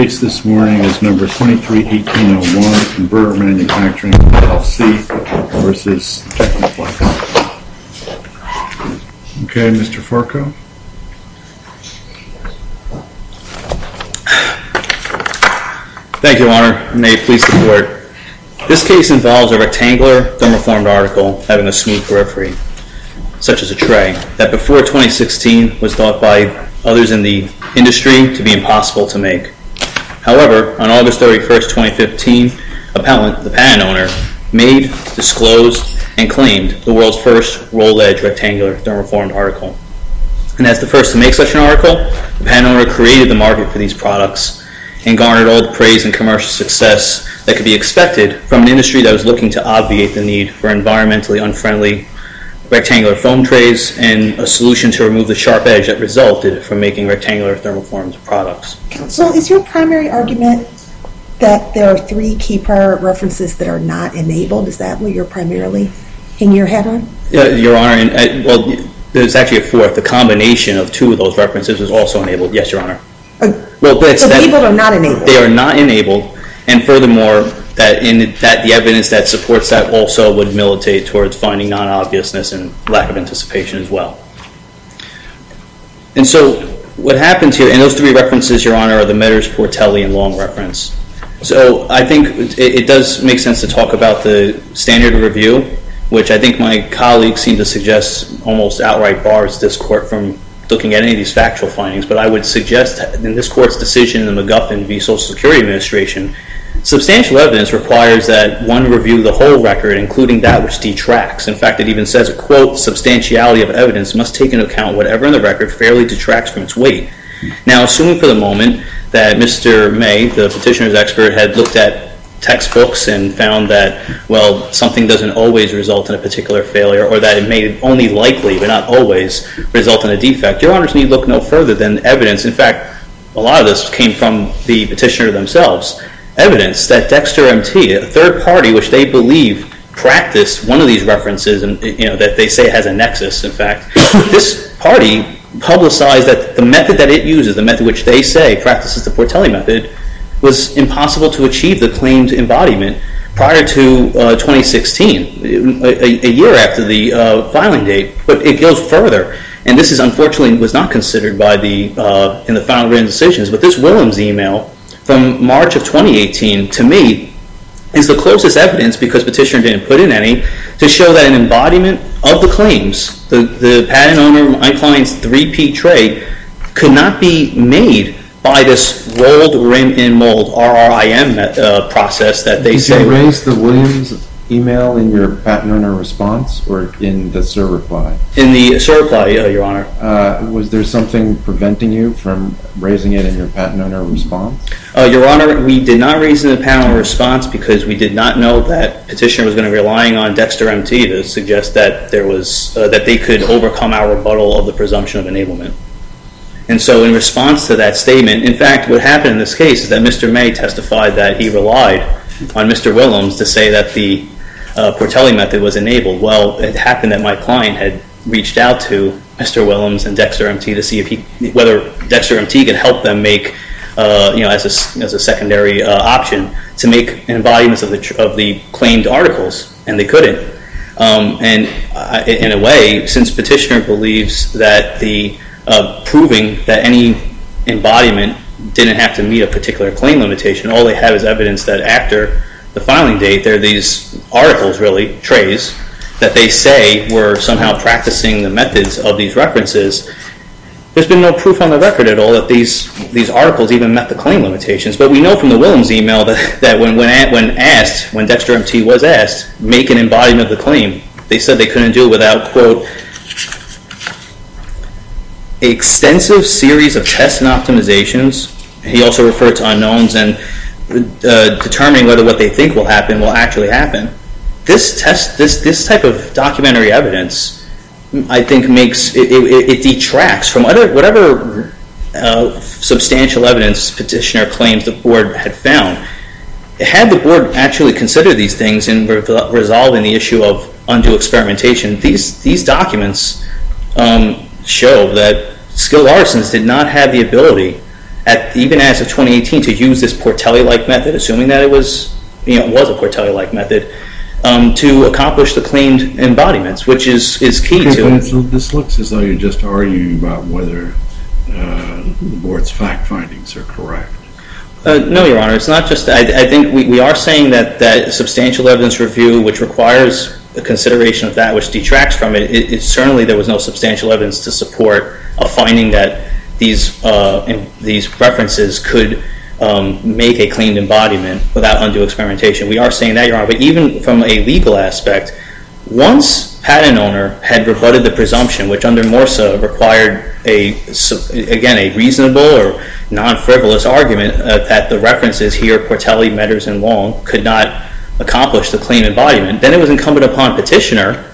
Okay, Mr. Farquhar. Thank you, Your Honor, and may it please the Court. This case involves a rectangular, thermoformed article having a smooth periphery, such as the tray, that before 2016 was thought by others in the industry to be impossible to make. However, on August 31, 2015, a patent owner made, disclosed, and claimed the world's first roll-edge rectangular thermoformed article. And as the first to make such an article, the patent owner created the market for these products and garnered all the praise and commercial success that could be expected from an industry that was looking to obviate the need for environmentally unfriendly rectangular foam trays and a solution to remove the sharp edge that resulted from making rectangular thermoformed products. Counsel, is your primary argument that there are three key prior references that are not enabled? Is that what you're primarily in your head on? Your Honor, well, there's actually a fourth. The combination of two of those references is also enabled, yes, Your Honor. But people are not enabled. They are not enabled. And furthermore, the evidence that supports that also would militate towards finding non-obviousness and lack of anticipation as well. And so what happens here, and those three references, Your Honor, are the Meaders-Portelli and Long reference. So I think it does make sense to talk about the standard of review, which I think my colleagues seem to suggest almost outright bars this court from looking at any of these factual findings. But I would suggest in this court's decision in the McGuffin v. Social Security Administration, substantial evidence requires that one review the whole record, including that which detracts. In fact, it even says, quote, substantiality of evidence must take into account whatever in the record fairly detracts from its weight. Now assuming for the moment that Mr. May, the petitioner's expert, had looked at textbooks and found that, well, something doesn't always result in a particular failure or that it may only likely, but not always, result in a defect, Your Honor's need look no further than evidence. In fact, a lot of this came from the petitioner themselves. Evidence that Dexter M.T., a third party which they believe practiced one of these references and that they say has a nexus, in fact, this party publicized that the method that it uses, the method which they say practices the Portelli method, was impossible to achieve the claimed embodiment prior to 2016, a year after the filing date. But it goes further. And this, unfortunately, was not considered in the final written decisions. But this Williams email from March of 2018, to me, is the closest evidence, because petitioner didn't put in any, to show that an embodiment of the claims, the patent owner, my client's three-peat trade, could not be made by this rolled rim in mold, RRIM process that they say. Did you erase the Williams email in your patent owner response or in the server file? In the server file, your honor. Was there something preventing you from raising it in your patent owner response? Your honor, we did not raise it in the patent owner response because we did not know that petitioner was going to be relying on Dexter M.T. to suggest that they could overcome our rebuttal of the presumption of enablement. And so in response to that statement, in fact, what happened in this case is that Mr. May testified that he relied on Mr. Williams to say that the Portelli method was enabled. Well, it happened that my client had reached out to Mr. Williams and Dexter M.T. to see if he, whether Dexter M.T. could help them make, as a secondary option, to make an embodiment of the claimed articles, and they couldn't. And in a way, since petitioner believes that the, proving that any embodiment didn't have to meet a particular claim limitation, all they have is evidence that after the filing date there are these articles, really, trays, that they say were somehow practicing the methods of these references, there's been no proof on the record at all that these articles even met the claim limitations. But we know from the Williams email that when asked, when Dexter M.T. was asked, make an embodiment of the claim, they said they couldn't do it without, quote, extensive series of tests and optimizations. He also referred to unknowns and determining whether what they think will happen will actually happen. This test, this type of documentary evidence, I think makes, it detracts from whatever substantial evidence petitioner claims the board had found. Had the board actually considered these things and were resolving the issue of undue experimentation, these documents show that skilled artisans did not have the ability, even as of 2018, to use this Portelli-like method, assuming that it was a Portelli-like method, to accomplish the claimed embodiments, which is key to it. This looks as though you're just arguing about whether the board's fact findings are correct. No, Your Honor. It's not just that. I think we are saying that substantial evidence review, which requires the consideration of that, which detracts from it, certainly there was no substantial evidence to support a finding that these references could make a claimed embodiment without undue experimentation. We are saying that, Your Honor. But even from a legal aspect, once patent owner had rebutted the presumption, which under MORSA required, again, a reasonable or non-frivolous argument that the references here, Portelli, Meders, and Wong, could not accomplish the claimed embodiment, then it was incumbent upon petitioner,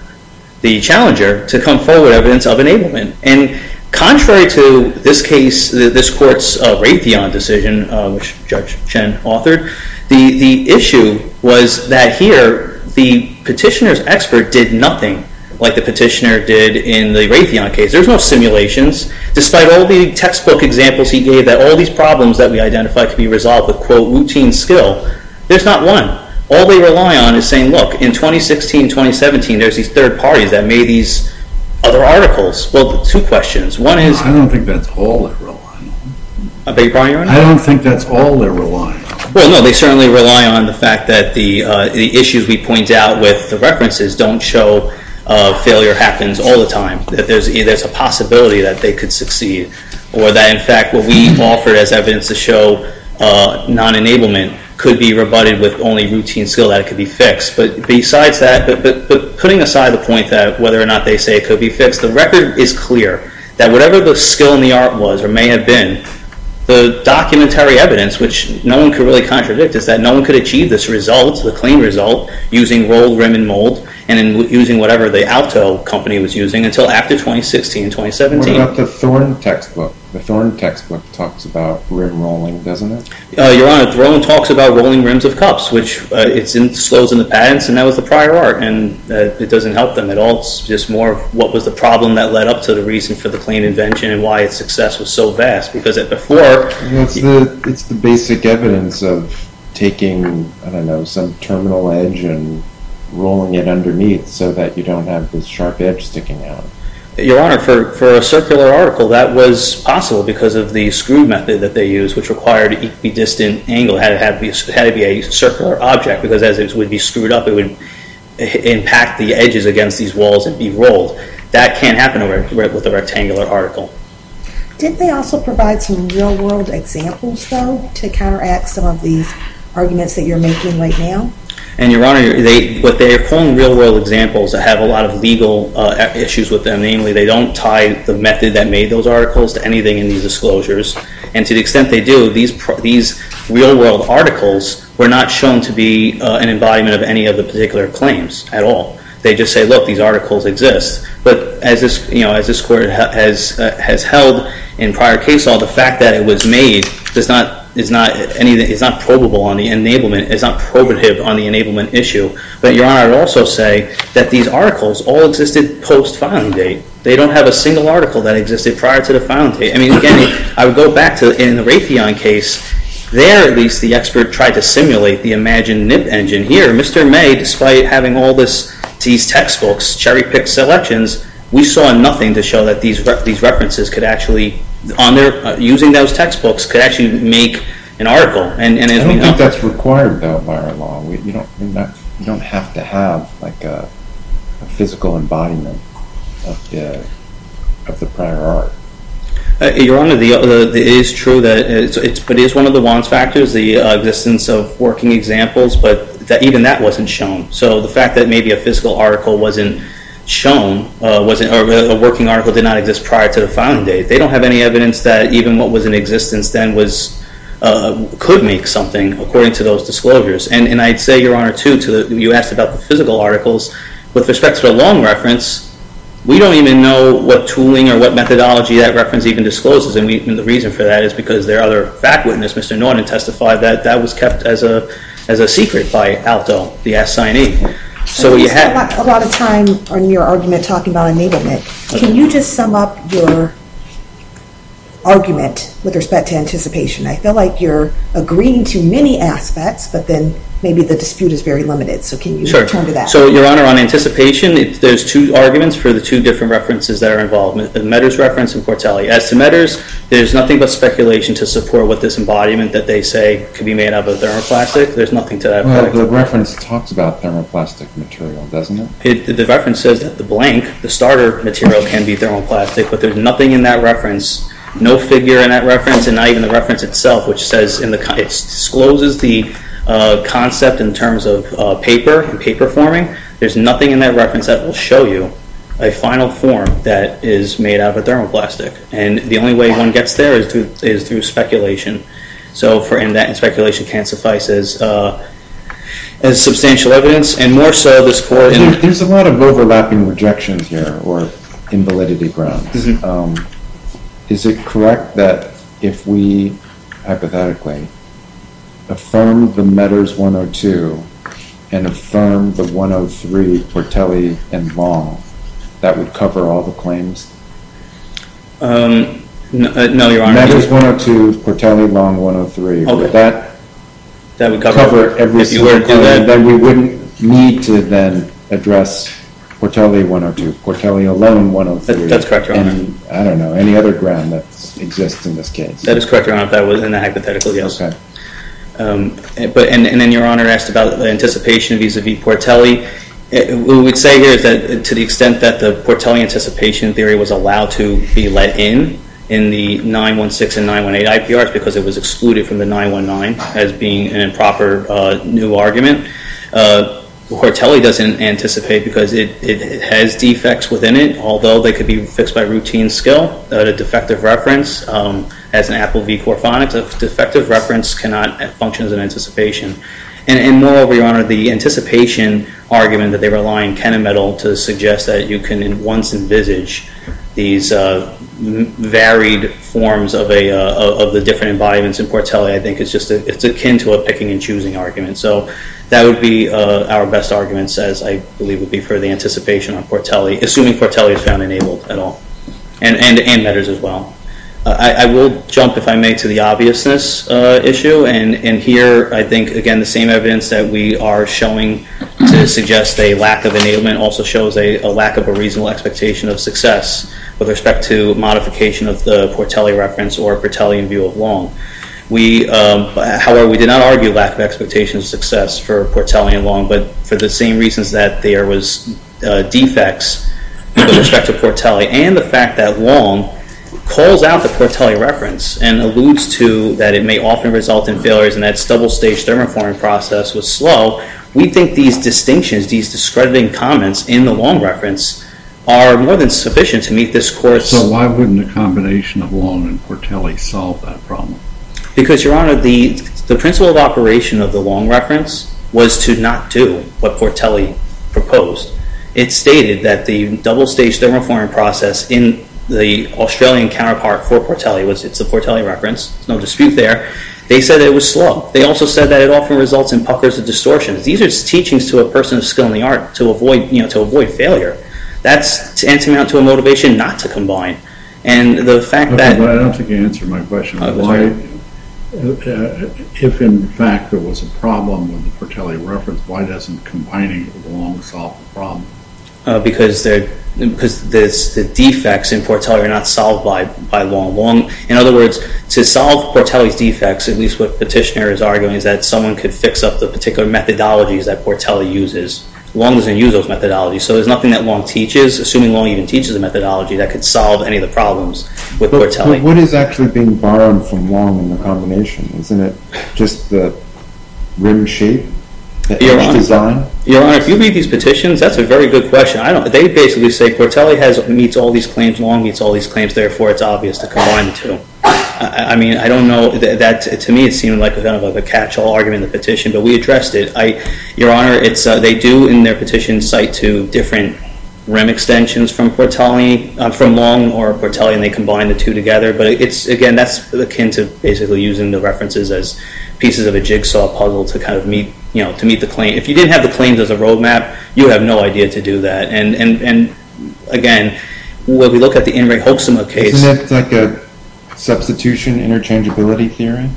the challenger, to come forward with evidence of enablement. And contrary to this case, this court's Raytheon decision, which Judge Chen authored, the issue was that here, the petitioner's expert did nothing like the petitioner did in the Raytheon case. There's no simulations. Despite all the textbook examples he gave, that all these problems that we identified could be resolved with, quote, routine skill, there's not one. All they rely on is saying, look, in 2016, 2017, there's these third parties that made these other articles. Well, two questions. One is- I don't think that's all they're relying on. Are they, Your Honor? I don't think that's all they're relying on. Well, no, they certainly rely on the fact that the issues we point out with the references don't show failure happens all the time, that there's a possibility that they could succeed, or that, in fact, what we offer as evidence to show non-enablement could be rebutted with only routine skill, that it could be fixed. But besides that, but putting aside the point that whether or not they say it could be fixed, the record is clear that whatever the skill in the art was, or may have been, the documentary evidence, which no one could really contradict, is that no one could achieve this result, the claimed result, using rolled rim and mold, and using whatever the Alto company was using, until after 2016, 2017. What about the Thorne textbook? The Thorne textbook talks about rim rolling, doesn't it? Your Honor, Thorne talks about rolling rims of cups, which it's in the patents, and that was the prior art. And it doesn't help them at all, it's just more of what was the problem that led up to the reason for the claim invention, and why its success was so vast. Because before... It's the basic evidence of taking, I don't know, some terminal edge and rolling it underneath, so that you don't have this sharp edge sticking out. Your Honor, for a circular article, that was possible because of the screw method that they used, which required a distant angle, it had to be a circular object, because as it would be screwed up, it would impact the edges against these walls and be rolled. That can't happen with a rectangular article. Did they also provide some real world examples, though, to counteract some of these arguments that you're making right now? And Your Honor, what they're calling real world examples, I have a lot of legal issues with them. Namely, they don't tie the method that made those articles to anything in these disclosures. And to the extent they do, these real world articles were not shown to be an embodiment of any of the particular claims at all. They just say, look, these articles exist. But as this Court has held in prior case law, the fact that it was made is not probable on the enablement, is not probative on the enablement issue. But Your Honor, I would also say that these articles all existed post filing date. They don't have a single article that existed prior to the filing date. I mean, again, I would go back to in the Raytheon case, there, at least, the expert tried to simulate the imagined nib engine. Here, Mr. May, despite having all these textbooks, cherry picked selections, we saw nothing to show that these references could actually, using those textbooks, could actually make an article. And as we know... I don't think that's required, though, by our law. You don't have to have a physical embodiment of the prior art. Your Honor, it is true that it is one of the wants factors, the existence of working examples, but even that wasn't shown. So the fact that maybe a physical article wasn't shown, or a working article did not exist prior to the filing date, they don't have any evidence that even what was in existence then could make something, according to those disclosures. And I'd say, Your Honor, too, you asked about the physical articles. With respect to the long reference, we don't even know what tooling or what methodology that reference even discloses, and the reason for that is because there are other fact-witnesses. Mr. Norton testified that that was kept as a secret by ALTO, the assignee. So you had... I spent a lot of time on your argument talking about enablement. Can you just sum up your argument with respect to anticipation? I feel like you're agreeing to many aspects, but then maybe the dispute is very limited. So can you return to that? So, Your Honor, on anticipation, there's two arguments for the two different references that are involved. The Meadors reference and Portelli. As to Meadors, there's nothing but speculation to support what this embodiment that they say could be made out of a thermoplastic. There's nothing to that effect. Well, the reference talks about thermoplastic material, doesn't it? The reference says that the blank, the starter material, can be thermoplastic, but there's nothing in that reference, no figure in that reference, and not even the reference itself, which says in the... It discloses the concept in terms of paper and paper forming. There's nothing in that reference that will show you a final form that is made out of a thermoplastic. And the only way one gets there is through speculation. So for... And that speculation can't suffice as substantial evidence, and more so the support... There's a lot of overlapping rejections here, or invalidity grounds. Is it correct that if we, hypothetically, affirm the Meadors 102, and affirm the 103 Portelli and Long, that would cover all the claims? No, Your Honor. Meadors 102, Portelli, Long 103. That would cover every single claim. That we wouldn't need to then address Portelli 102, Portelli alone 103. That's correct, Your Honor. I don't know. Any other ground that exists in this case. That is correct, Your Honor. If that was in the hypothetical, yes. And then Your Honor asked about anticipation vis-a-vis Portelli. What we would say here is that to the extent that the Portelli anticipation theory was allowed to be let in, in the 916 and 918 IPRs, because it was excluded from the 919 as being an improper new argument, Portelli doesn't anticipate because it has defects within it, although they could be fixed by routine skill. A defective reference, as in Apple v. Corphonics, a defective reference cannot function as an anticipation. And moreover, Your Honor, the anticipation argument that they rely on Kenna Metal to suggest that you can once envisage these varied forms of the different embodiments in Portelli, I think it's akin to a picking and choosing argument. So that would be our best arguments, as I believe would be for the anticipation on Portelli, assuming Portelli is found enabled at all. And metals as well. I will jump, if I may, to the obviousness issue. And here, I think, again, the same evidence that we are showing to suggest a lack of enablement also shows a lack of a reasonable expectation of success with respect to modification of the Portelli reference or Portelli in view of Long. However, we did not argue lack of expectation of success for Portelli and Long, but for the same reasons that there was defects with respect to Portelli and the fact that Long calls out the Portelli reference and alludes to that it may often result in failures and that its double-stage thermoforming process was slow, we think these distinctions, these discrediting comments in the Long reference are more than sufficient to meet this course. So why wouldn't a combination of Long and Portelli solve that problem? Because, Your Honor, the principle of operation of the Long reference was to not do what Portelli proposed. It stated that the double-stage thermoforming process in the Australian counterpart for Portelli, which it's the Portelli reference, no dispute there, they said it was slow. They also said that it often results in puckers and distortions. These are teachings to a person of skill in the art to avoid failure. That's tantamount to a motivation not to combine. And the fact that... I don't think you answered my question. If in fact there was a problem with the Portelli reference, why doesn't combining it with Long solve the problem? Because the defects in Portelli are not solved by Long. Long, in other words, to solve Portelli's defects, at least what Petitioner is arguing, is that someone could fix up the particular methodologies that Portelli uses. Long doesn't use those methodologies. So there's nothing that Long teaches, assuming Long even teaches the methodology, that could solve any of the problems with Portelli. What is actually being borrowed from Long in the combination? Isn't it just the rim shape? The edge design? Your Honor, if you read these petitions, that's a very good question. They basically say Portelli meets all these claims, Long meets all these claims, therefore it's obvious to combine the two. I mean, I don't know, to me it seemed like a catch-all argument in the petition, but we addressed it. Your Honor, they do in their petition cite two different rim extensions from Portelli, from Long or Portelli, and they combine the two together. But again, that's akin to basically using the references as pieces of a jigsaw puzzle to kind of meet the claim. If you didn't have the claims as a road map, you have no idea to do that. And again, when we look at the Henry Hoeksema case. Isn't that like a substitution interchangeability theorem?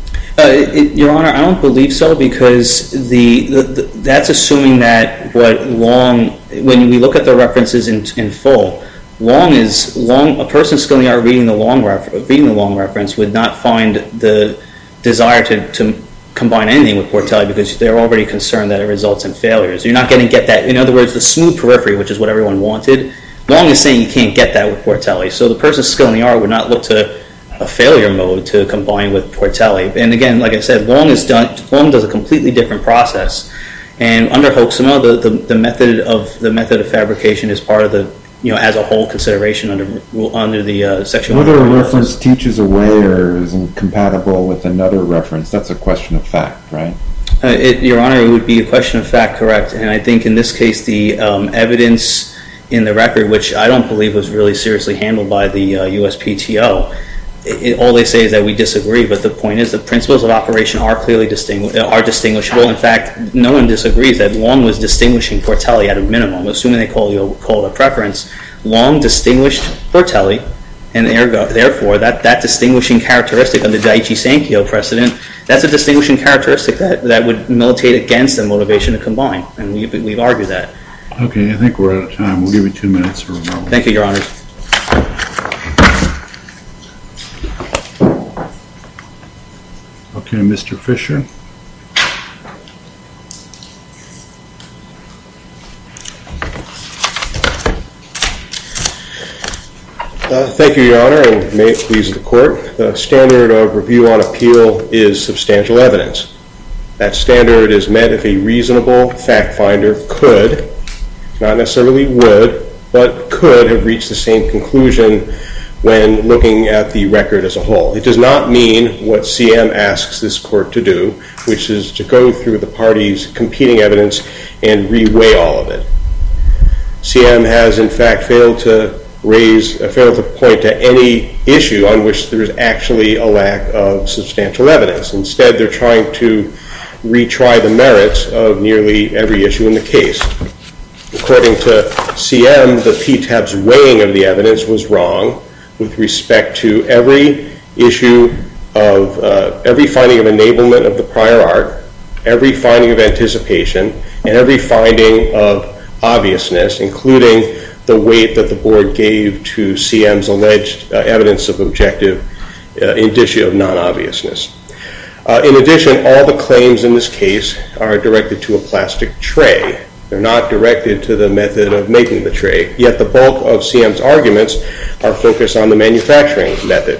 Your Honor, I don't believe so, because that's assuming that what Long, when we look at the references in full, Long is, a person skilled in the art reading the Long reference would not find the desire to combine anything with Portelli because they're already concerned that it results in failures. You're not going to get that. In other words, the smooth periphery, which is what everyone wanted, Long is saying you can't get that with Portelli. So the person skilled in the art would not look to a failure mode to combine with Portelli. And again, like I said, Long does a completely different process. And under Hoeksema, the method of fabrication is part of the, you know, as a whole consideration under the Section 100. Whether a reference teaches a way or isn't compatible with another reference, that's a question of fact, right? Your Honor, it would be a question of fact, correct. And I think in this case, the evidence in the record, which I don't believe was really seriously handled by the USPTO, all they say is that we disagree. But the point is the principles of operation are clearly distinguishable. In fact, no one disagrees that Long was distinguishing Portelli at a minimum. Assuming they called a preference, Long distinguished Portelli, and therefore that distinguishing characteristic under Daiichi Sankyo precedent, that's a distinguishing characteristic that would militate against a motivation to combine. And we've argued that. Okay, I think we're out of time. We'll give you two minutes for rebuttal. Thank you, Your Honor. Thank you. Okay, Mr. Fisher. Thank you, Your Honor, and may it please the Court. The standard of review on appeal is substantial evidence. That standard is met if a reasonable fact finder could, not necessarily would, but could have reached the same conclusion when looking at the record as a whole. It does not mean what CM asks this Court to do, which is to go through the parties' competing evidence and reweigh all of it. CM has, in fact, failed to raise a fair enough point to any issue on which there is actually a lack of substantial evidence. Instead, they're trying to retry the merits of nearly every issue in the case. According to CM, the PTAB's weighing of the evidence was wrong with respect to every finding of enablement of the prior art, every finding of anticipation, and every finding of obviousness, including the weight that the Board gave to CM's alleged evidence of objective indicia of non-obviousness. In addition, all the claims in this case are directed to a plastic tray. They're not directed to the method of making the tray. Yet the bulk of CM's arguments are focused on the manufacturing method.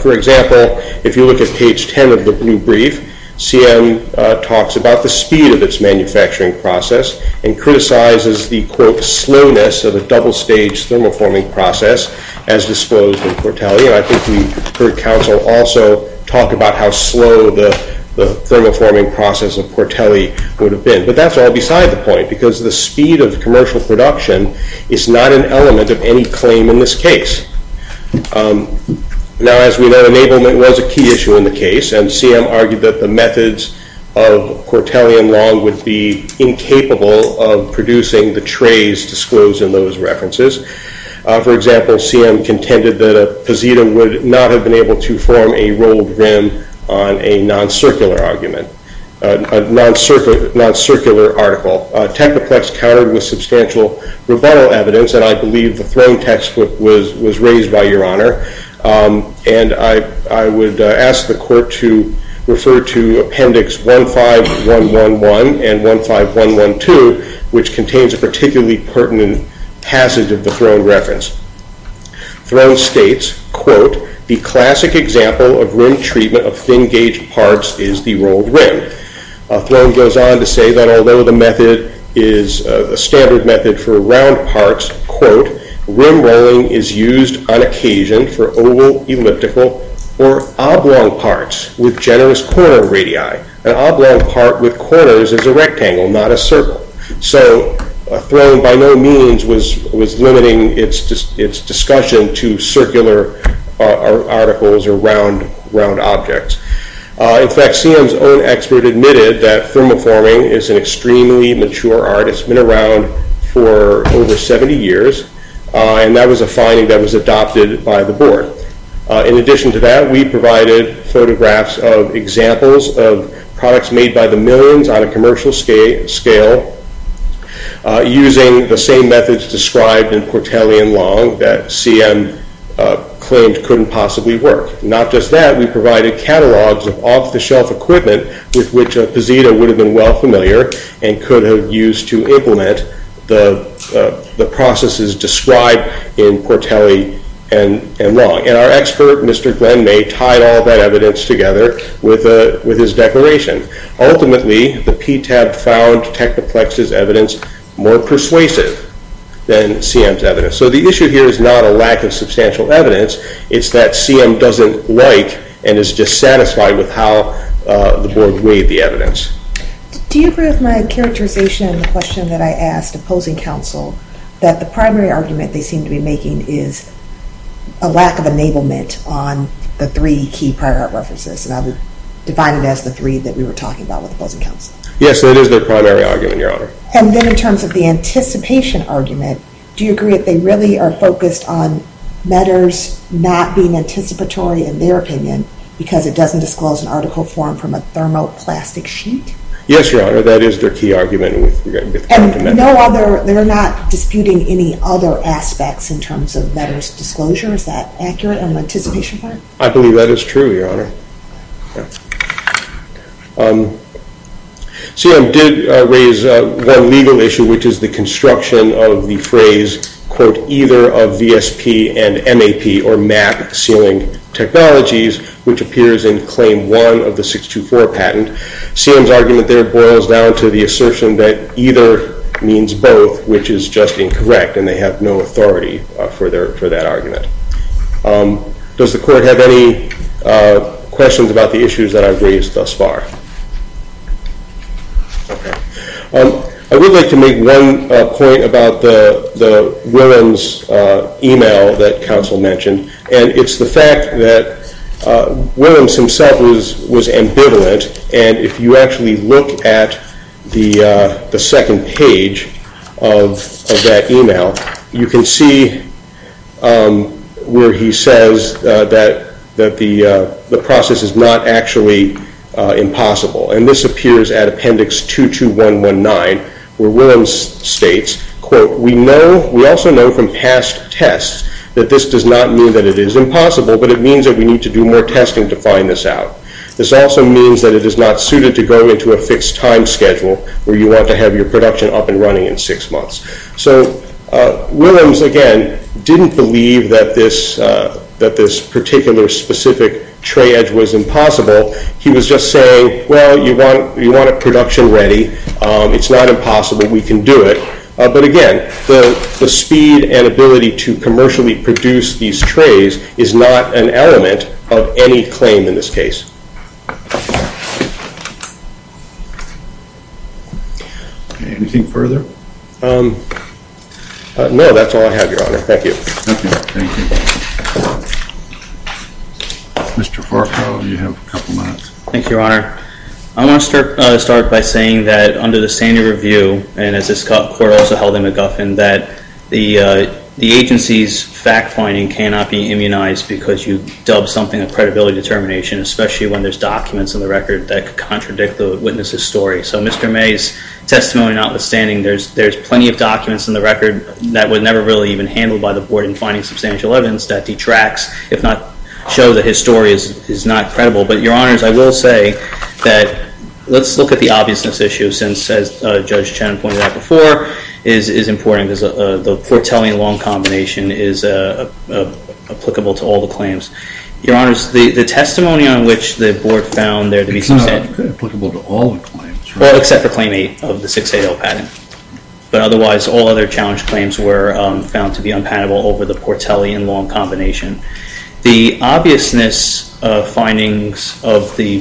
For example, if you look at page 10 of the blue brief, CM talks about the speed of its manufacturing process and criticizes the, quote, slowness of the double-stage thermoforming process as disposed of Portelli. I think we heard counsel also talk about how slow the thermoforming process of Portelli would have been. But that's all beside the point, because the speed of commercial production is not an element of any claim in this case. Now, as we know, enablement was a key issue in the case, and CM argued that the methods of Portelli and Long would be incapable of producing the trays disclosed in those references. For example, CM contended that a posita would not have been able to form a rolled rim on a non-circular argument, a non-circular article. Technoplex countered with substantial rebuttal evidence, and I believe the Throne textbook was raised by Your Honor. And I would ask the Court to refer to Appendix 15111 and 15112, which contains a particularly pertinent passage of the Throne reference. Throne states, quote, the classic example of rim treatment of thin-gauge parts is the rolled rim. Throne goes on to say that although the method is a standard method for round parts, quote, rim rolling is used on occasion for oval, elliptical, or oblong parts with generous corner radii. An oblong part with corners is a rectangle, not a circle. So Throne by no means was limiting its discussion to circular articles or round objects. In fact, CM's own expert admitted that thermoforming is an extremely mature art. It's been around for over 70 years, and that was a finding that was adopted by the Board. In addition to that, we provided photographs of examples of products made by the millions on a commercial scale using the same methods described in Portelli and Long that CM claimed couldn't possibly work. Not just that, we provided catalogs of off-the-shelf equipment with which Pazito would have been well familiar and could have used to implement the processes described in Portelli and Long. And our expert, Mr. Glenn May, tied all that evidence together with his declaration. Ultimately, the PTAB found Technoplex's evidence more persuasive than CM's evidence. So the issue here is not a lack of substantial evidence. It's that CM doesn't like and is dissatisfied with how the Board weighed the evidence. Do you agree with my characterization of the question that I asked opposing counsel that the primary argument they seem to be making is a lack of enablement on the three key prior art references? And I would divide it as the three that we were talking about with opposing counsel. Yes, that is their primary argument, Your Honor. And then in terms of the anticipation argument, do you agree that they really are focused on matters not being anticipatory, in their opinion, because it doesn't disclose an article formed from a thermoplastic sheet? Yes, Your Honor, that is their key argument. And no other? They're not disputing any other aspects in terms of matters of disclosure? Is that accurate on the anticipation part? I believe that is true, Your Honor. CM did raise one legal issue, which is the construction of the phrase, quote, either of VSP and MAP, or MAP, sealing technologies, which appears in Claim 1 of the 624 patent. CM's argument there boils down to the assertion that either means both, which is just incorrect, and they have no authority for that argument. Does the Court have any questions about the issues that I've raised thus far? I would like to make one point about the Williams email that counsel mentioned, and it's the fact that Williams himself was ambivalent, and if you actually look at the second page of that email, you can see where he says that the process is not actually impossible, and this appears at Appendix 22119, where Williams states, quote, we also know from past tests that this does not mean that it is impossible, but it means that we need to do more testing to find this out. This also means that it is not suited to go into a fixed time schedule where you want to have your production up and running in six months. So Williams, again, didn't believe that this particular specific tray edge was impossible. He was just saying, well, you want it production ready. It's not impossible. We can do it. But, again, the speed and ability to commercially produce these trays is not an element of any claim in this case. Anything further? No, that's all I have, Your Honor. Thank you. Thank you. Mr. Farquhar, you have a couple minutes. Thank you, Your Honor. I want to start by saying that under the standard review, and as this Court also held in McGuffin, that the agency's fact-finding cannot be immunized because you dub something a credibility determination, especially when there's documents in the record that contradict the witness's story. So Mr. May's testimony notwithstanding, there's plenty of documents in the record that were never really even handled by the Board in finding substantial evidence that detracts, if not show that his story is not credible. But, Your Honors, I will say that let's look at the obviousness issue, since, as Judge Channon pointed out before, is important. The Portelli and Long combination is applicable to all the claims. Your Honors, the testimony on which the Board found there to be substantial evidence It's not applicable to all the claims, right? Well, except for Claim 8 of the 6AL patent. But, otherwise, all other challenge claims were found to be unpalatable over the Portelli and Long combination. The obviousness findings of the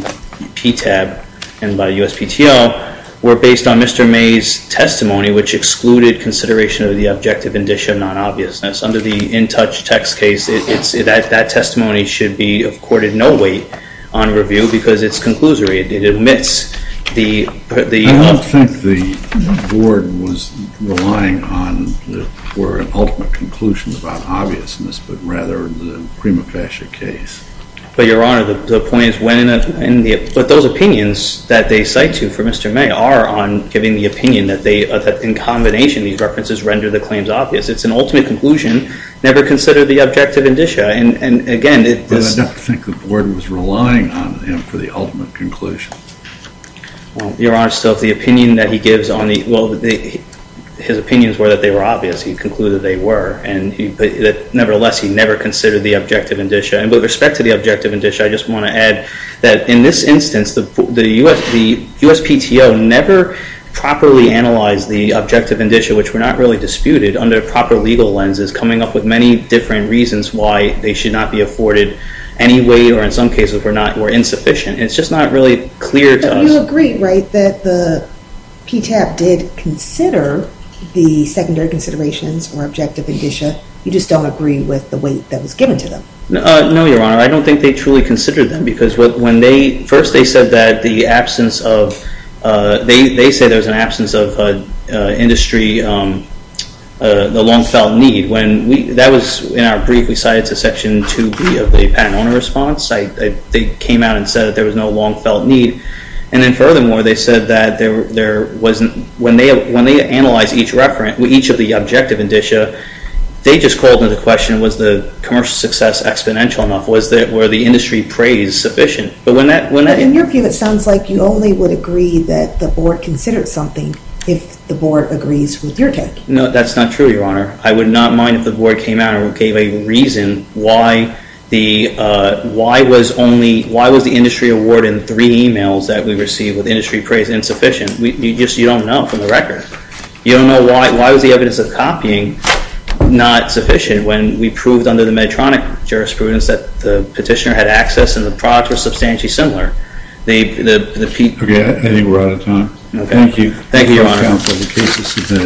PTAB and by USPTO were based on Mr. May's testimony, which excluded consideration of the objective indicia of non-obviousness. Under the in-touch text case, that testimony should be of courted no weight on review because it's conclusory. It admits the... I don't think the Board was relying on or an ultimate conclusion about obviousness, but rather the prima facie case. But, Your Honor, the point is when... But those opinions that they cite to for Mr. May are on giving the opinion that, in combination, these references render the claims obvious. It's an ultimate conclusion. Never consider the objective indicia. And, again... But I don't think the Board was relying on him for the ultimate conclusion. Your Honor, so if the opinion that he gives on the... Well, his opinions were that they were obvious. He concluded they were. Nevertheless, he never considered the objective indicia. And with respect to the objective indicia, I just want to add that, in this instance, the USPTO never properly analyzed the objective indicia, which were not really disputed under proper legal lenses, coming up with many different reasons why they should not be afforded any weight or, in some cases, were insufficient. It's just not really clear to us. But you agree, right, that the PTAB did consider the secondary considerations or objective indicia. You just don't agree with the weight that was given to them. No, Your Honor. I don't think they truly considered them because when they... First, they said that the absence of... They said there was an absence of industry, the long-felt need. When we... That was in our brief we cited to Section 2B of the Patent Owner Response. They came out and said that there was no long-felt need. And then, furthermore, they said that there wasn't... When they analyzed each of the objective indicia, they just called into question, was the commercial success exponential enough? Were the industry praise sufficient? But when that... But in your view, it sounds like you only would agree that the Board considered something if the Board agrees with your take. No, that's not true, Your Honor. I would not mind if the Board came out and gave a reason why was the industry award in three emails that we received with industry praise insufficient. You just don't know from the record. You don't know why was the evidence of copying not sufficient when we proved under the Medtronic jurisprudence that the petitioner had access and the products were substantially similar. They... Okay, I think we're out of time. Thank you. Thank you, Your Honor.